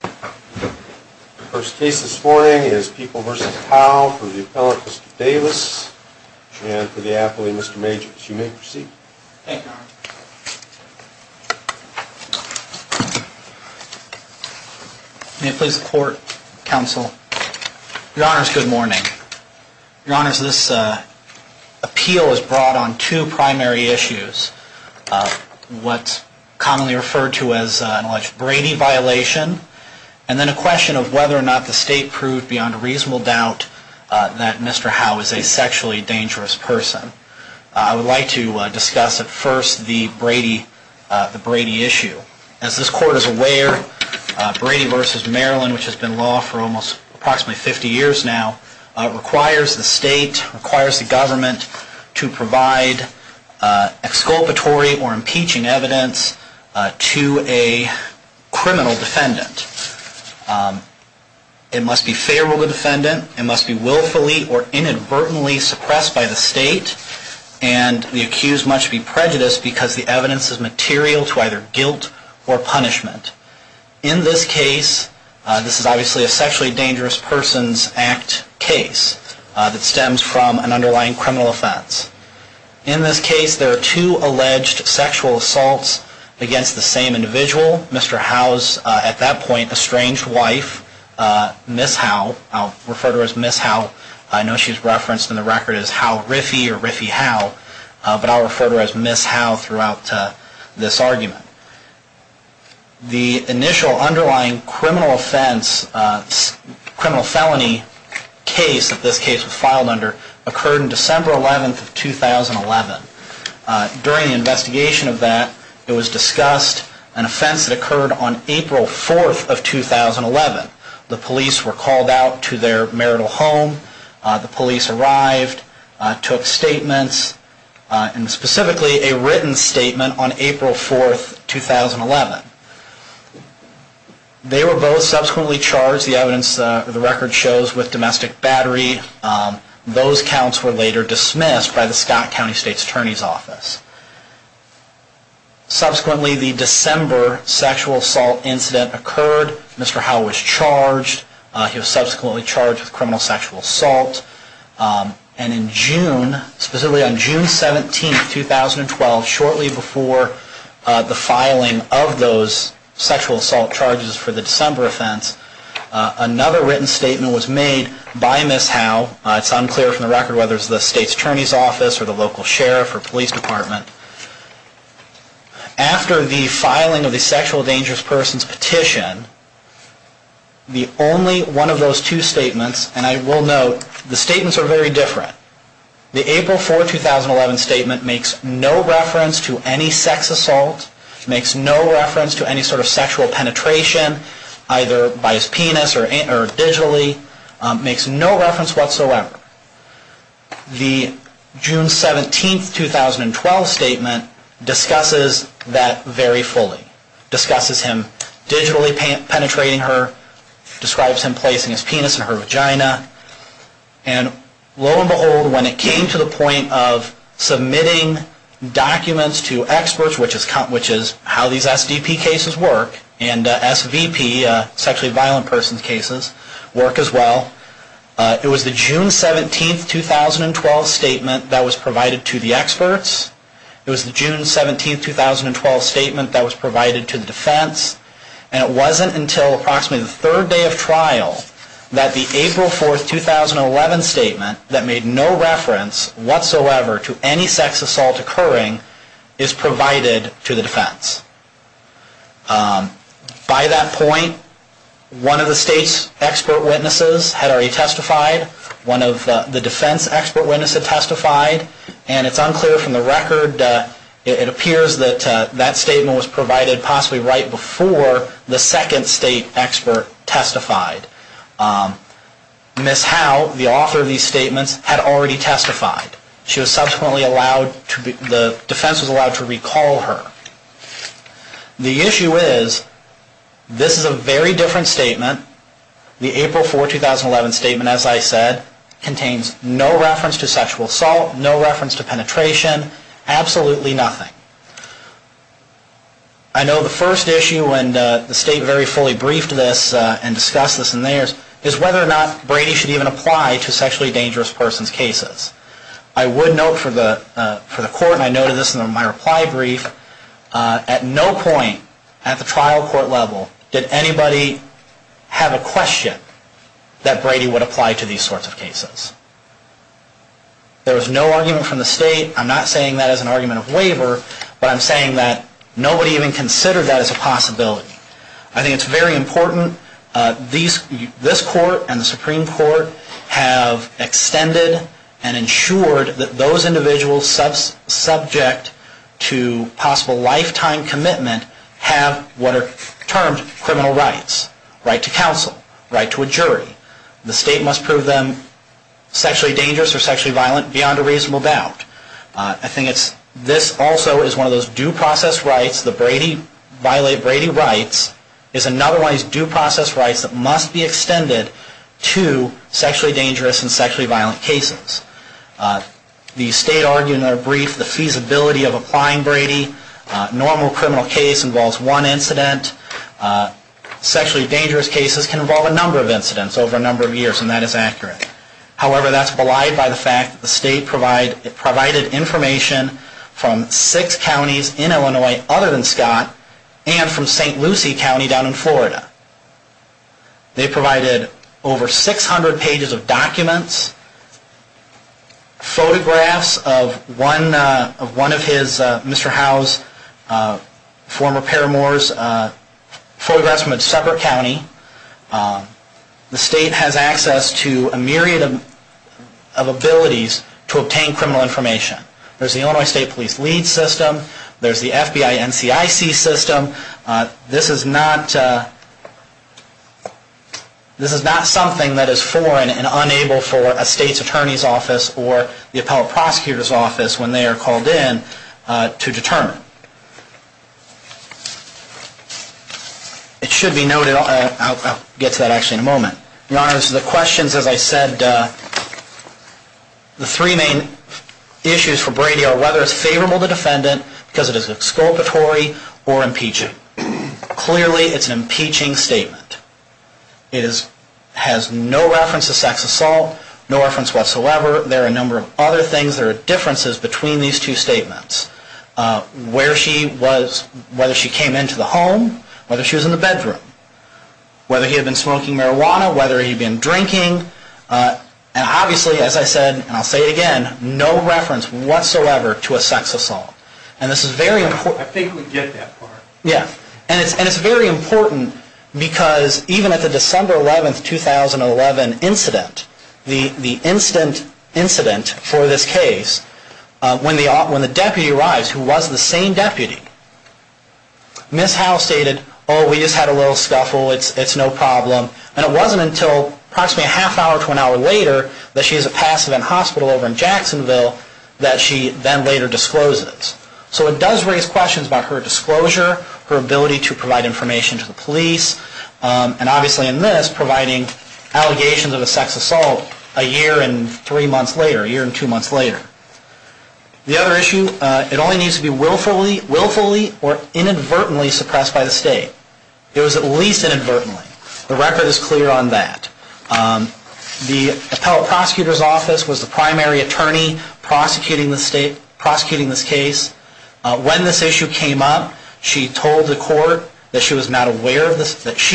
The first case this morning is People v. Howe for the appellate Mr. Davis and for the appellate Mr. Majors. You may proceed. Thank you, Your Honor. May it please the Court, Counsel. Your Honors, good morning. Your Honors, this appeal is brought on two primary issues. What's commonly referred to as an alleged Brady violation and then a question of whether or not the State proved beyond a reasonable doubt that Mr. Howe is a sexually dangerous person. I would like to discuss at first the Brady issue. As this Court is aware, Brady v. Maryland, which has been law for approximately 50 years now, requires the State, requires the Government, to provide exculpatory or impeaching evidence to a criminal defendant. It must be favorable to the defendant, it must be willfully or inadvertently suppressed by the State, and the accused must be prejudiced because the evidence is material to either guilt or punishment. In this case, this is obviously a Sexually Dangerous Persons Act case that stems from an underlying criminal offense. In this case, there are two alleged sexual assaults against the same individual, Mr. Howe's, at that point, estranged wife, Ms. Howe. I'll refer to her as Ms. Howe. I know she's referenced in the record as Howe Riffey or Riffey Howe, but I'll refer to her as Ms. Howe throughout this argument. The initial underlying criminal offense, criminal felony case that this case was filed under, occurred on December 11th of 2011. During the investigation of that, it was discussed an offense that occurred on April 4th of 2011. The police were called out to their marital home, the police arrived, took statements, and specifically a written statement on April 4th, 2011. They were both subsequently charged, the evidence, the record shows, with domestic battery. Those counts were later dismissed by the Scott County State's Attorney's Office. Subsequently, the December sexual assault incident occurred. Mr. Howe was charged. He was subsequently charged with criminal sexual assault. And in June, specifically on June 17th, 2012, shortly before the filing of those sexual assault charges for the December offense, another written statement was made by Ms. Howe. It's unclear from the record whether it's the State's Attorney's Office or the local sheriff or police department. After the filing of the sexual dangerous person's petition, the only one of those two statements, and I will note, the statements are very different. The April 4th, 2011 statement makes no reference to any sex assault, makes no reference to any sort of sexual penetration, either by his penis or digitally. It makes no reference whatsoever. The June 17th, 2012 statement discusses that very fully. It discusses him digitally penetrating her, describes him placing his penis in her vagina. And lo and behold, when it came to the point of submitting documents to experts, which is how these SDP cases work, and SVP, sexually violent persons cases, work as well. It was the June 17th, 2012 statement that was provided to the experts. It was the June 17th, 2012 statement that was provided to the defense. And it wasn't until approximately the third day of trial that the April 4th, 2011 statement that made no reference whatsoever to any sex assault occurring is provided to the defense. By that point, one of the state's expert witnesses had already testified. One of the defense expert witnesses had testified. And it's unclear from the record, it appears that that statement was provided possibly right before the second state expert testified. Ms. Howe, the author of these statements, had already testified. She was subsequently allowed to be, the defense was allowed to recall her. The issue is, this is a very different statement. The April 4th, 2011 statement, as I said, contains no reference to sexual assault, no reference to penetration, absolutely nothing. I know the first issue, and the state very fully briefed this and discussed this in theirs, is whether or not Brady should even apply to sexually dangerous persons cases. I would note for the court, and I noted this in my reply brief, at no point at the trial court level did anybody have a question that Brady would apply to these sorts of cases. There was no argument from the state. I'm not saying that as an argument of waiver, but I'm saying that nobody even considered that as a possibility. I think it's very important, this court and the Supreme Court have extended and ensured that those individuals subject to possible lifetime commitment have what are termed criminal rights, right to counsel, right to a jury. The state must prove them sexually dangerous or sexually violent beyond a reasonable doubt. I think this also is one of those due process rights, the Brady, violate Brady rights, is another one of these due process rights that must be extended to sexually dangerous and sexually violent cases. The state argued in their brief the feasibility of applying Brady. Normal criminal case involves one incident. Sexually dangerous cases can involve a number of incidents over a number of years, and that is accurate. However, that's belied by the fact that the state provided information from six counties in Illinois other than Scott and from St. Lucie County down in Florida. They provided over 600 pages of documents, photographs of one of his, Mr. Howe's former paramours, photographs from a separate county. The state has access to a myriad of abilities to obtain criminal information. There's the Illinois State Police LEADS system, there's the FBI NCIC system. This is not something that is foreign and unable for a state's attorney's office or the appellate prosecutor's office, when they are called in, to determine. It should be noted, I'll get to that actually in a moment. Your Honor, the questions, as I said, the three main issues for Brady are whether it's favorable to defendant because it is exculpatory or impeaching. Clearly, it's an impeaching statement. It has no reference to sex assault, no reference whatsoever. There are a number of other things, there are differences between these two statements. Whether she came into the home, whether she was in the bedroom, whether he had been smoking marijuana, whether he had been drinking. And obviously, as I said, and I'll say it again, no reference whatsoever to a sex assault. And this is very important. And it's very important because even at the December 11th, 2011 incident, the instant incident for this case, when the deputy arrives, who was the same deputy, Ms. Howe stated, oh, we just had a little scuffle, it's no problem. And it wasn't until approximately a half hour to an hour later that she is a passive in hospital over in Jacksonville that she then later discloses. So it does raise questions about her disclosure, her ability to provide information to the police, and obviously in this, providing allegations of a sex assault a year and three months later, a year and two months later. The other issue, it only needs to be willfully or inadvertently suppressed by the state. It was at least inadvertently. The record is clear on that. The appellate prosecutor's office was the primary attorney prosecuting this case. When this issue came up, she told the court that she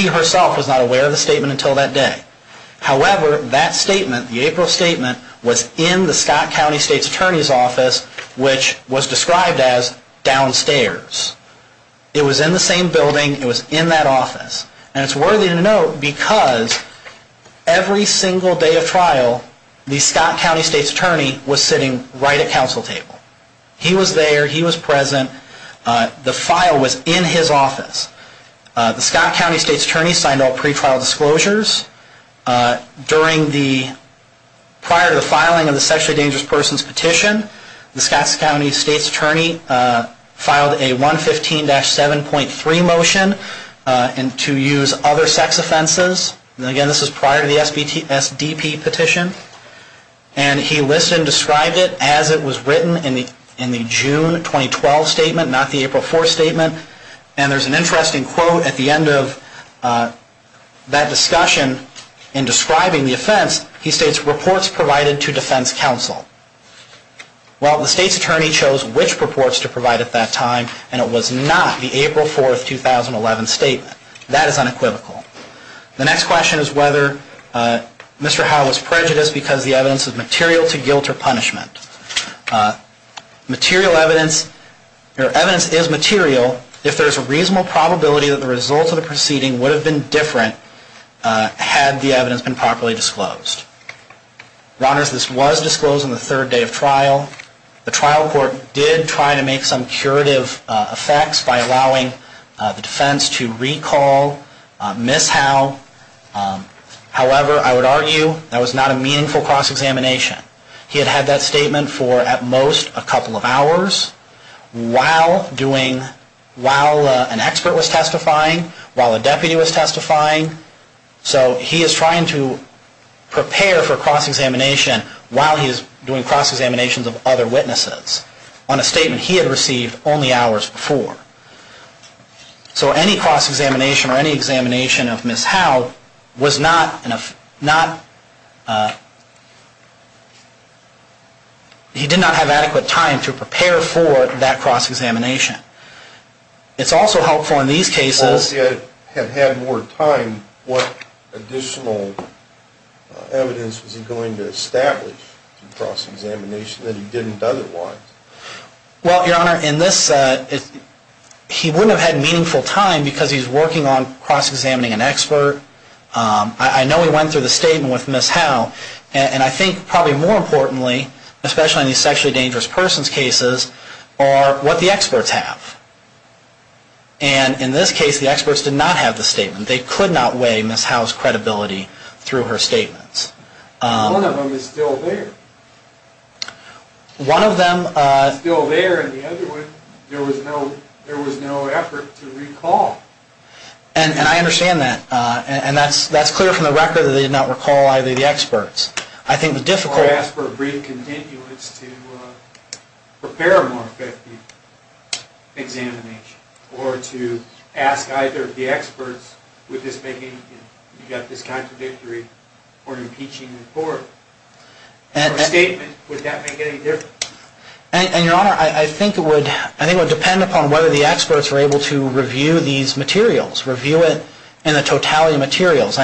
herself was not aware of the statement until that day. However, that statement, the April statement, was in the Scott County State's Attorney's Office, which was described as downstairs. It was in the same building, it was in that office. And it's worthy to note because every single day of trial, the Scott County State's Attorney was sitting right at counsel table. He was there, he was present, the file was in his office. The Scott County State's Attorney signed all pretrial disclosures. During the, prior to the filing of the sexually dangerous person's petition, the Scott County State's Attorney filed a 115-7.3 motion to use other sex offenses. Again, this is prior to the SDP petition. And he listed and described it as it was written in the June 2012 statement, not the April 4 statement. And there's an interesting quote at the end of that discussion in describing the offense. He states, reports provided to defense counsel. Well, the State's Attorney chose which reports to provide at that time, and it was not the April 4, 2011 statement. That is unequivocal. The next question is whether Mr. Howe was prejudiced because the evidence is material to guilt or punishment. Material evidence, or evidence is material if there is a reasonable probability that the results of the proceeding would have been different had the evidence been properly disclosed. Ronners, this was disclosed on the third day of trial. The trial court did try to make some curative effects by allowing the defense to recall Ms. Howe. However, I would argue that was not a meaningful cross-examination. He had had that statement for at most a couple of hours while doing, while an expert was testifying, while a deputy was testifying. So he is trying to prepare for cross-examination while he is doing cross-examinations of other witnesses on a statement he had received only hours before. So any cross-examination or any examination of Ms. Howe was not, he did not have adequate time to prepare for that cross-examination. It is also helpful in these cases... Well, if he had had more time, what additional evidence was he going to establish in cross-examination that he didn't otherwise? Well, Your Honor, in this, he wouldn't have had meaningful time because he is working on cross-examining an expert. I know he went through the statement with Ms. Howe, and I think probably more importantly, especially in these sexually dangerous persons cases, are what the experts have. And in this case, the experts did not have the statement. They could not weigh Ms. Howe's credibility through her statements. One of them is still there. One of them is still there, and the other one, there was no effort to recall. And I understand that, and that's clear from the record that they did not recall either of the experts. Or ask for a brief continuance to prepare a more effective examination. Or to ask either of the experts, would this make anything? You've got this contradictory or impeaching report. Or statement, would that make any difference? And, Your Honor, I think it would depend upon whether the experts were able to review these materials. Review it in the totality of materials.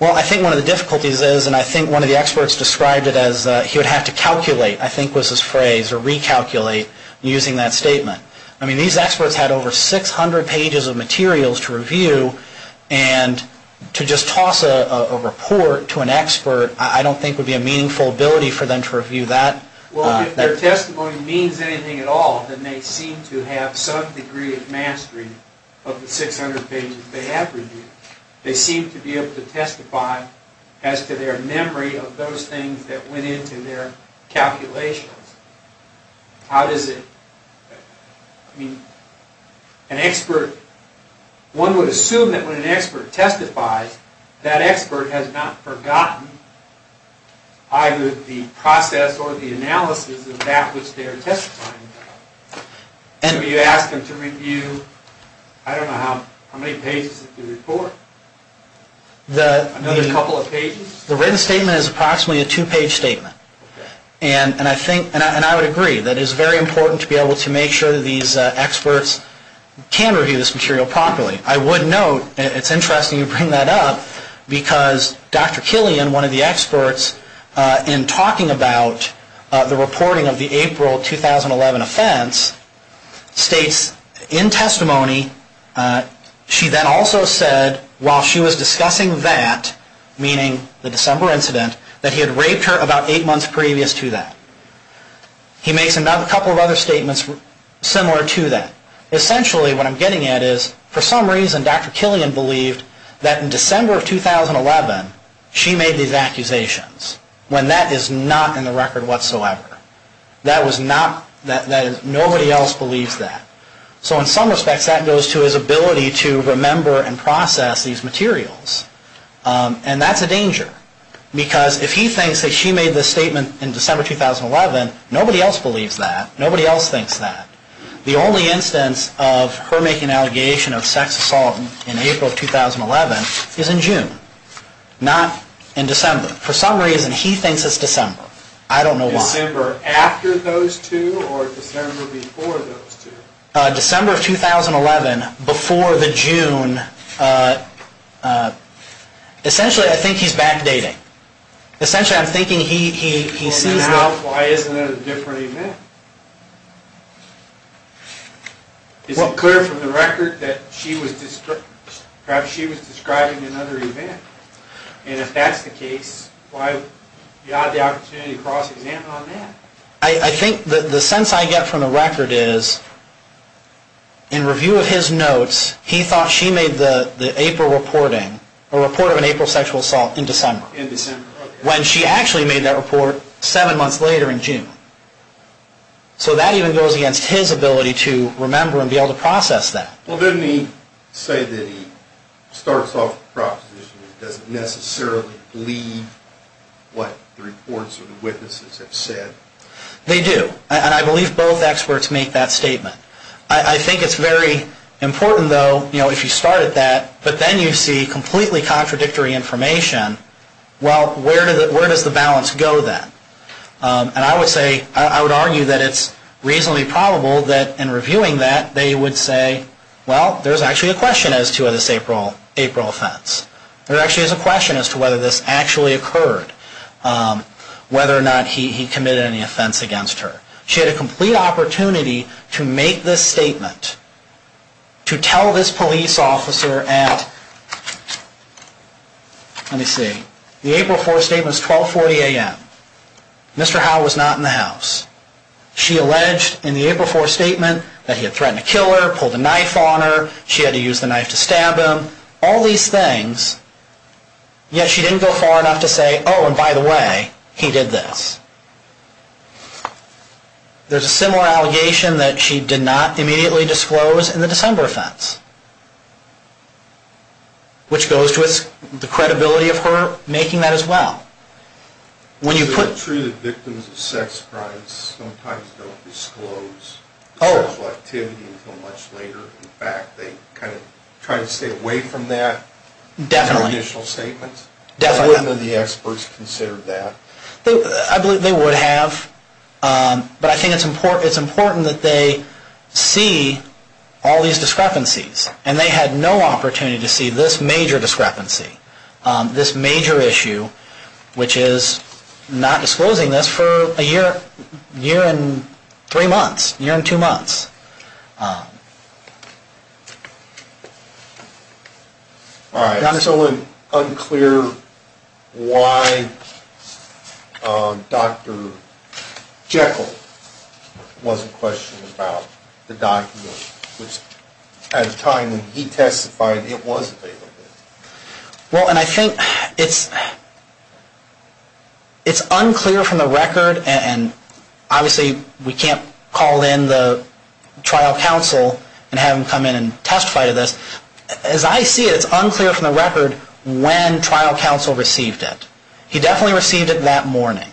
Well, I think one of the difficulties is, and I think one of the experts described it as he would have to calculate, I think was his phrase, or recalculate using that statement. I mean, these experts had over 600 pages of materials to review. And to just toss a report to an expert, I don't think would be a meaningful ability for them to review that. Well, if their testimony means anything at all, then they seem to have some degree of mastery of the 600 pages they have reviewed. They seem to be able to testify as to their memory of those things that went into their calculations. How does it... One would assume that when an expert testifies, that expert has not forgotten either the process or the analysis of that which they are testifying about. So you ask them to review, I don't know how many pages of the report? Another couple of pages? The written statement is approximately a two-page statement. And I would agree that it is very important to be able to make sure that these experts can review this material properly. I would note, it's interesting you bring that up, because Dr. Killian, one of the experts, in talking about the reporting of the April 2011 offense, states in testimony, she then also said, while she was discussing that, meaning the December incident, that he had raped her about eight months previous to that. He makes a couple of other statements similar to that. Essentially, what I'm getting at is, for some reason, Dr. Killian believed that in December of 2011, she made these accusations, when that is not in the record whatsoever. Nobody else believes that. So in some respects, that goes to his ability to remember and process these materials. And that's a danger, because if he thinks that she made this statement in December 2011, nobody else believes that, nobody else thinks that. The only instance of her making an allegation of sex assault in April 2011 is in June. Not in December. For some reason, he thinks it's December. I don't know why. December after those two, or December before those two? December of 2011, before the June. Essentially, I think he's backdating. Why isn't it a different event? Is it clear from the record that she was describing another event? And if that's the case, why do you have the opportunity to cross-examine on that? I think the sense I get from the record is, in review of his notes, he thought she made the April reporting, a report of an April sexual assault in December, when she actually made that report seven months later in June. So that even goes against his ability to remember and be able to process that. Well, didn't he say that he starts off with a proposition that doesn't necessarily lead to what the reports or the witnesses have said? They do. And I believe both experts make that statement. I think it's very important, though, if you start at that, but then you see completely contradictory information, well, where does the balance go then? And I would argue that it's reasonably probable that in reviewing that, they would say, well, there's actually a question as to this April offense. There actually is a question as to whether this actually occurred, whether or not he committed any offense against her. She had a complete opportunity to make this statement, to tell this police officer at, let me see, the April 4th statement is 1240 AM. Mr. Howe was not in the house. She alleged in the April 4th statement that he had threatened to kill her, pulled a knife on her, she had to use the knife to stab him, all these things, yet she didn't go far enough to say, oh, and by the way, he did this. There's a similar allegation that she did not immediately disclose in the December offense, which goes to the credibility of her making that as well. It's true that victims of sex crimes sometimes don't disclose their sexual activity until much later. In fact, they kind of try to stay away from that in their initial statements. I wouldn't know the experts considered that. I believe they would have, but I think it's important that they see all these discrepancies, and they had no opportunity to see this major discrepancy, this major issue, which is not disclosing this for a year and three months, a year and two months. It's unclear why Dr. Jekyll wasn't questioned about the document. It's unclear from the record, and obviously we can't call in the trial counsel and have him come in and testify to this. As I see it, it's unclear from the record when trial counsel received it. He definitely received it that morning.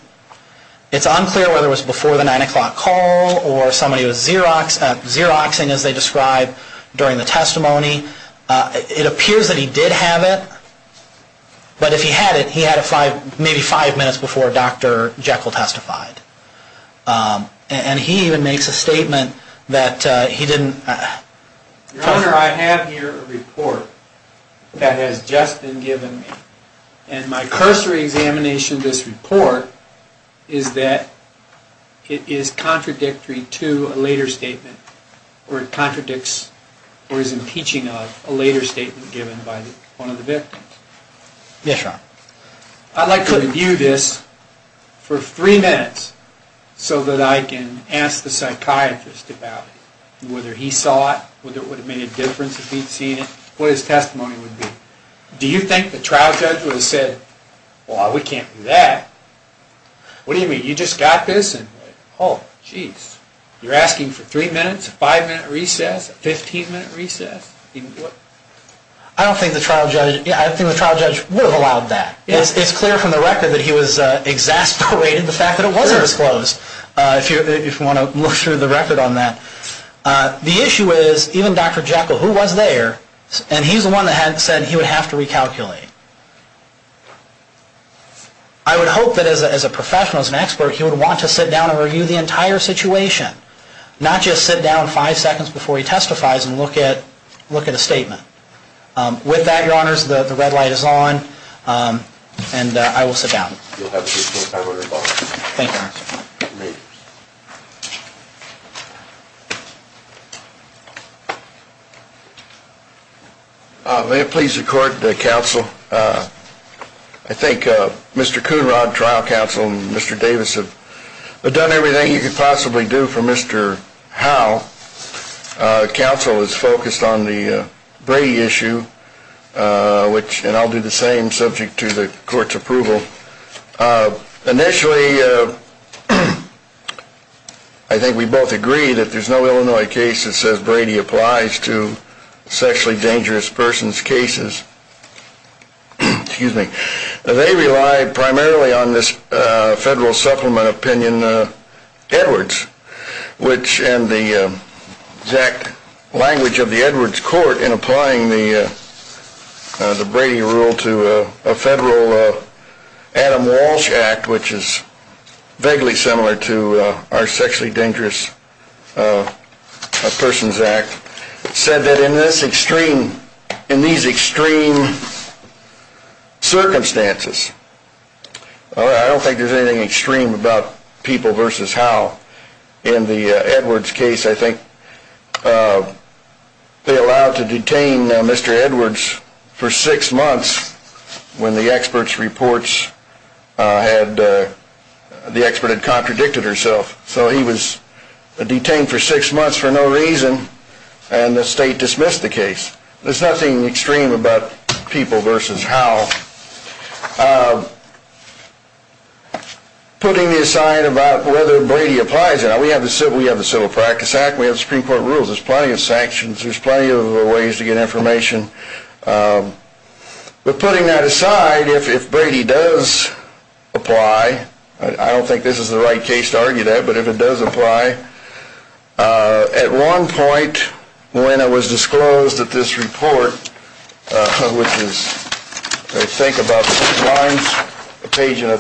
It's unclear whether it was before the 9 o'clock call or somebody was Xeroxing, as they describe, during the testimony. It appears that he did have it, but if he had it, he had it maybe five minutes before Dr. Jekyll testified. And he even makes a statement that he didn't... Your Honor, I have here a report that has just been given me, and my cursory examination of this report is that it is contradictory to a later statement, or it contradicts or is impeaching of a later statement given by one of the victims. Yes, Your Honor. I'd like to review this for three minutes so that I can ask the psychiatrist about it, whether he saw it, whether it would have made a difference if he'd seen it, what his testimony would be. Do you think the trial judge would have said, well, we can't do that. What do you mean, you just got this and, oh, jeez. You're asking for three minutes, five-minute recess, 15-minute recess? I don't think the trial judge would have allowed that. It's clear from the record that he was exasperated at the fact that it wasn't disclosed, if you want to look through the record on that. The issue is, even Dr. Jekyll, who was there, and he's the one that said he would have to recalculate. I would hope that as a professional, as an expert, he would want to sit down and review the entire situation, not just sit down five seconds before he testifies and look at a statement. With that, Your Honors, the red light is on, and I will sit down. Thank you, Your Honor. May it please the Court, the counsel. I think Mr. Coonrod, trial counsel, and Mr. Davis have done everything you could possibly do for Mr. Howe. Counsel is focused on the Brady issue, and I'll do the same subject to the court's approval. Initially, I think we both agree that there's no Illinois case that says Brady applies to sexually dangerous persons' cases. They rely primarily on this federal supplement opinion, Edwards, which in the exact language of the Edwards court in applying the Brady rule to a federal case, the Adams-Walsh Act, which is vaguely similar to our Sexually Dangerous Persons Act, said that in these extreme circumstances, I don't think there's anything extreme about people versus Howe. In the Edwards case, I think they allowed to detain Mr. Edwards for six months when the expert's reports had contradicted herself. So he was detained for six months for no reason, and the state dismissed the case. There's nothing extreme about people versus Howe. Putting the aside about whether Brady applies, we have the Civil Practice Act, we have the Supreme Court rules, there's plenty of sanctions, there's plenty of ways to get information. But putting that aside, if Brady does apply, I don't think this is the right case to argue that, but if it does apply, at one point when it was disclosed that this report, which is I think about two lines, a page and a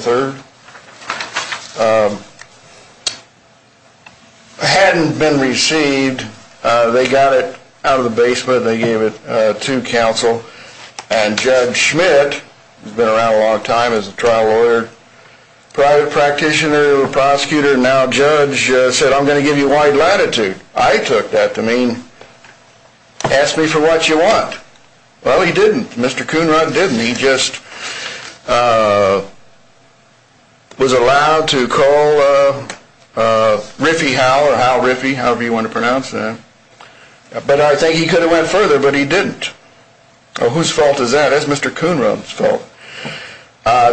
third, hadn't been received, they got it out of the basement, they gave it to counsel, and Judge Schmidt, who's been around a long time as a trial lawyer, private practitioner, prosecutor, now judge, said, I'm going to give you wide latitude. I took that to mean, ask me for what you want. Well, he didn't. Mr. Kuhnrund didn't. He just was allowed to call Riffey Howe, or Howe Riffey, however you want to pronounce that. But I think he could have went further, but he didn't. Whose fault is that? That's Mr. Kuhnrund's fault.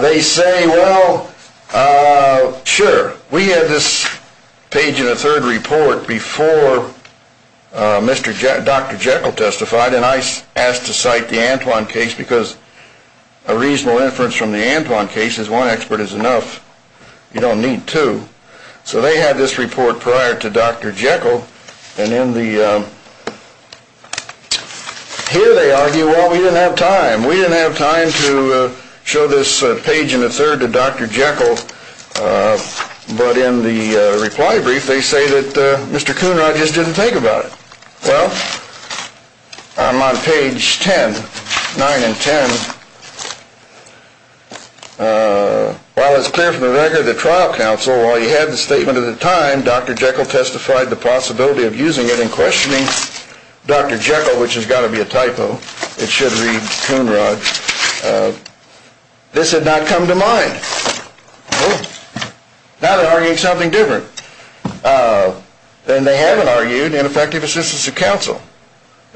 They say, well, sure. We had this page and a third report before Dr. Jekyll testified, and I asked to cite the Antoine case because a reasonable inference from the Antoine case is one expert is enough. You don't need two. So they had this report prior to Dr. Jekyll, and here they argue, well, we didn't have time. We didn't have time to show this page and a third to Dr. Jekyll, but in the reply brief, they say that Mr. Kuhnrund just didn't think about it. Well, I'm on page 10, 9 and 10. While it's clear from the record that trial counsel, while you had the statement at the time, Dr. Jekyll testified the possibility of using it in questioning Dr. Jekyll, which has got to be a typo. It should read Kuhnrund. This had not come to mind. Now they're arguing something different. They haven't argued ineffective assistance of counsel.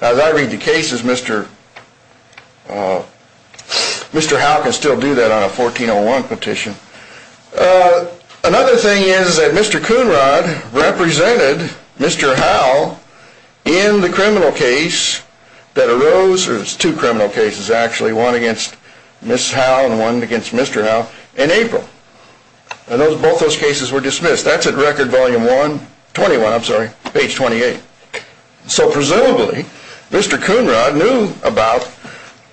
As I read the cases, Mr. Howe can still do that on a 1401 petition. Another thing is that Mr. Kuhnrund represented Mr. Howe in the criminal case that arose, two criminal cases actually, one against Ms. Howe and one against Mr. Howe in April. Both those cases were dismissed. That's at record volume 1, 21, I'm sorry, page 28. So presumably, Mr. Kuhnrund knew about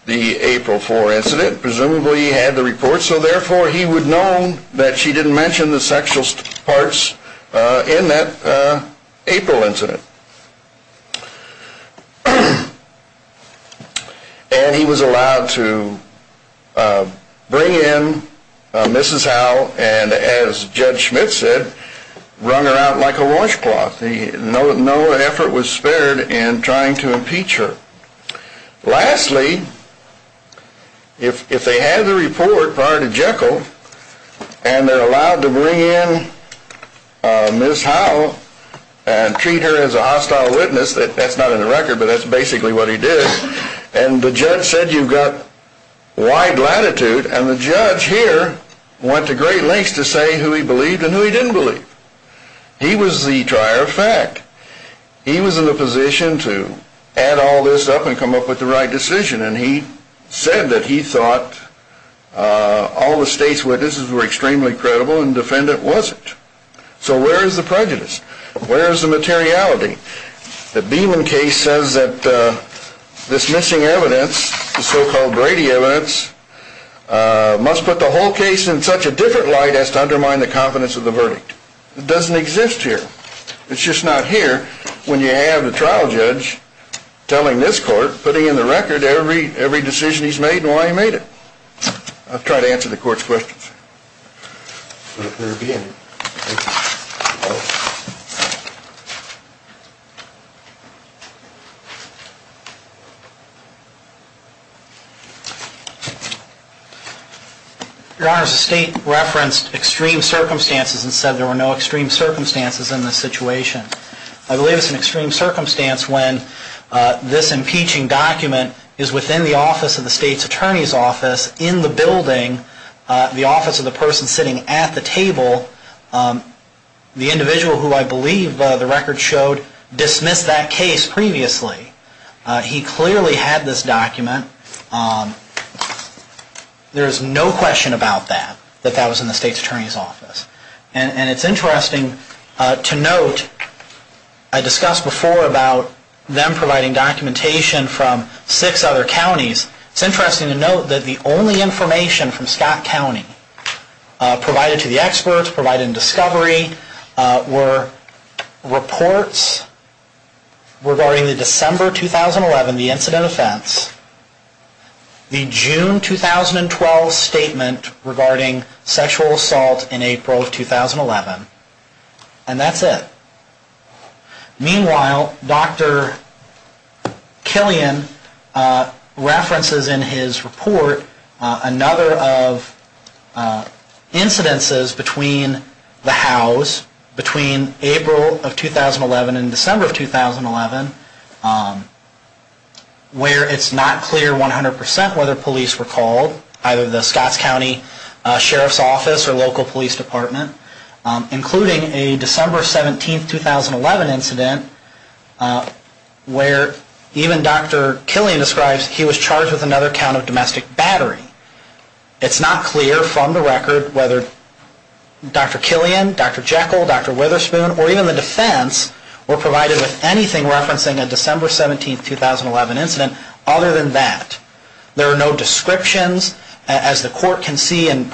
the April 4 incident, presumably he had the report, so therefore he would know that she didn't mention the sexual parts in that April incident. And he was allowed to bring in Mrs. Howe and, as Judge Schmidt said, wrung her out like a washcloth. No effort was spared in trying to impeach her. Lastly, if they had the report prior to Jekyll and they're allowed to bring in Ms. Howe and treat her as a hostile witness, that's not in the record, but that's basically what he did, and the judge said you've got wide latitude, and the judge here went to great lengths to say who he believed and who he didn't believe. He was the trier of fact. He was in the position to add all this up and come up with the right decision, and he said that he thought all the state's witnesses were extremely credible and the defendant wasn't. So where is the prejudice? Where is the materiality? The Beeman case says that this missing evidence, the so-called Brady evidence, must put the whole case in such a different light as to undermine the confidence of the verdict. It doesn't exist here. It's just not here when you have the trial judge telling this court, putting in the record every decision he's made and why he made it. I'll try to answer the court's questions. Your Honor, the state referenced extreme circumstances and said there were no extreme circumstances in this situation. I believe it's an extreme circumstance when this impeaching document is within the office of the state's attorney's office, in the building, in the office of the person sitting at the table, the individual who I believe the record showed dismissed that case previously. He clearly had this document. There is no question about that, that that was in the state's attorney's office. And it's interesting to note, I discussed before about them providing documentation from six other counties. It's interesting to note that the only information from Scott County provided to the experts, provided in discovery, were reports regarding the December 2011, the incident offense, the June 2012 statement regarding sexual assault in April of 2011. And that's it. Meanwhile, Dr. Killian references in his report another of incidences between the Howes, between April of 2011 and December of 2011, where it's not clear 100% whether police were called, either the Scott County Sheriff's Office or local police department, including a December 17, 2011 incident, where even Dr. Killian describes he was charged with another count of domestic battery. It's not clear from the record whether Dr. Killian, Dr. Jekyll, Dr. Witherspoon, or even the defense were provided with anything referencing a December 17, 2011 incident other than that. There are no descriptions as the court can see and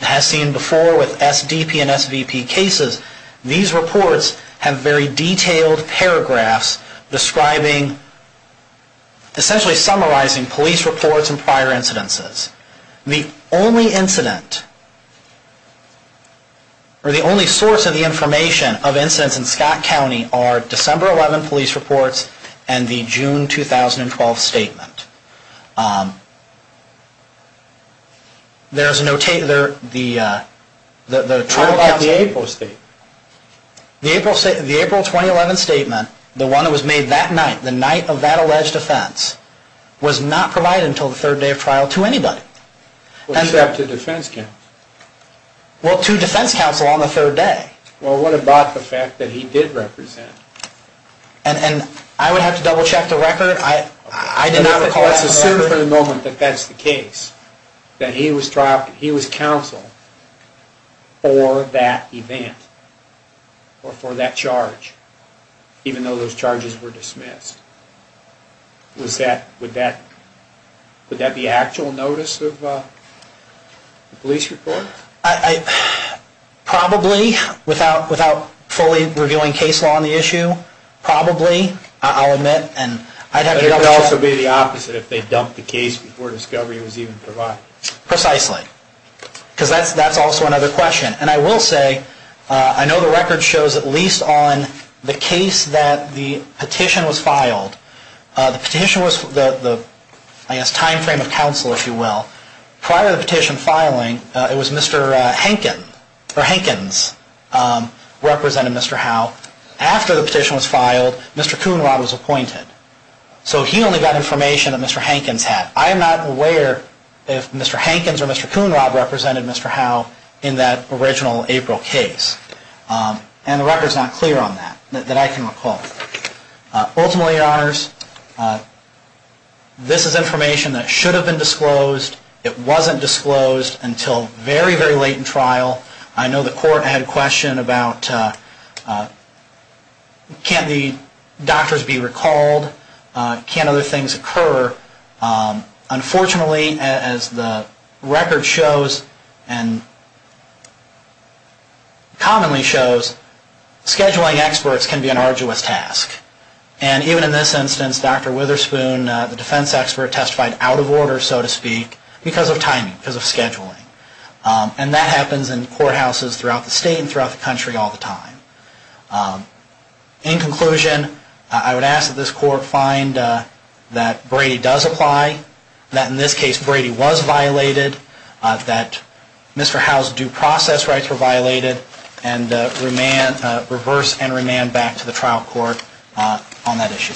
has seen before with SDP and SVP cases. These reports have very detailed paragraphs describing, essentially summarizing police reports and prior incidences. The only incident, or the only source of the information of incidents in Scott County are December 11 police reports and the June 2012 statement. There is no... What about the April statement? The April 2011 statement, the one that was made that night, the night of that alleged offense, was not provided until the third day of trial to anybody. Well, to defense counsel on the third day. Well, what about the fact that he did represent? Let's assume for the moment that that's the case, that he was counsel for that event, or for that charge, even though those charges were dismissed. Would that be actual notice of the police report? Probably, without fully revealing case law on the issue, probably, I'll admit. It would also be the opposite if they dumped the case before discovery was even provided. Precisely, because that's also another question. And I will say, I know the record shows, at least on the case that the petition was filed, the petition was the time frame of counsel, if you will. Prior to the petition filing, it was Mr. Hankins who represented Mr. Howe. After the petition was filed, Mr. Coonrod was appointed, so he only got information that Mr. Hankins had. I am not aware if Mr. Hankins or Mr. Coonrod represented Mr. Howe in that original April case. And the record is not clear on that, that I can recall. Ultimately, Your Honors, this is information that should have been disclosed. It wasn't disclosed until very, very late in trial. I know the court had a question about can't the doctors be recalled? Can't other things occur? Unfortunately, as the record shows, and And even in this instance, Dr. Witherspoon, the defense expert, testified out of order, so to speak, because of timing, because of scheduling. And that happens in courthouses throughout the state and throughout the country all the time. In conclusion, I would ask that this court find that Brady does apply, that in this case Brady was violated, that Mr. Howe's due process rights were violated, and reverse and remand back to the trial court on that issue.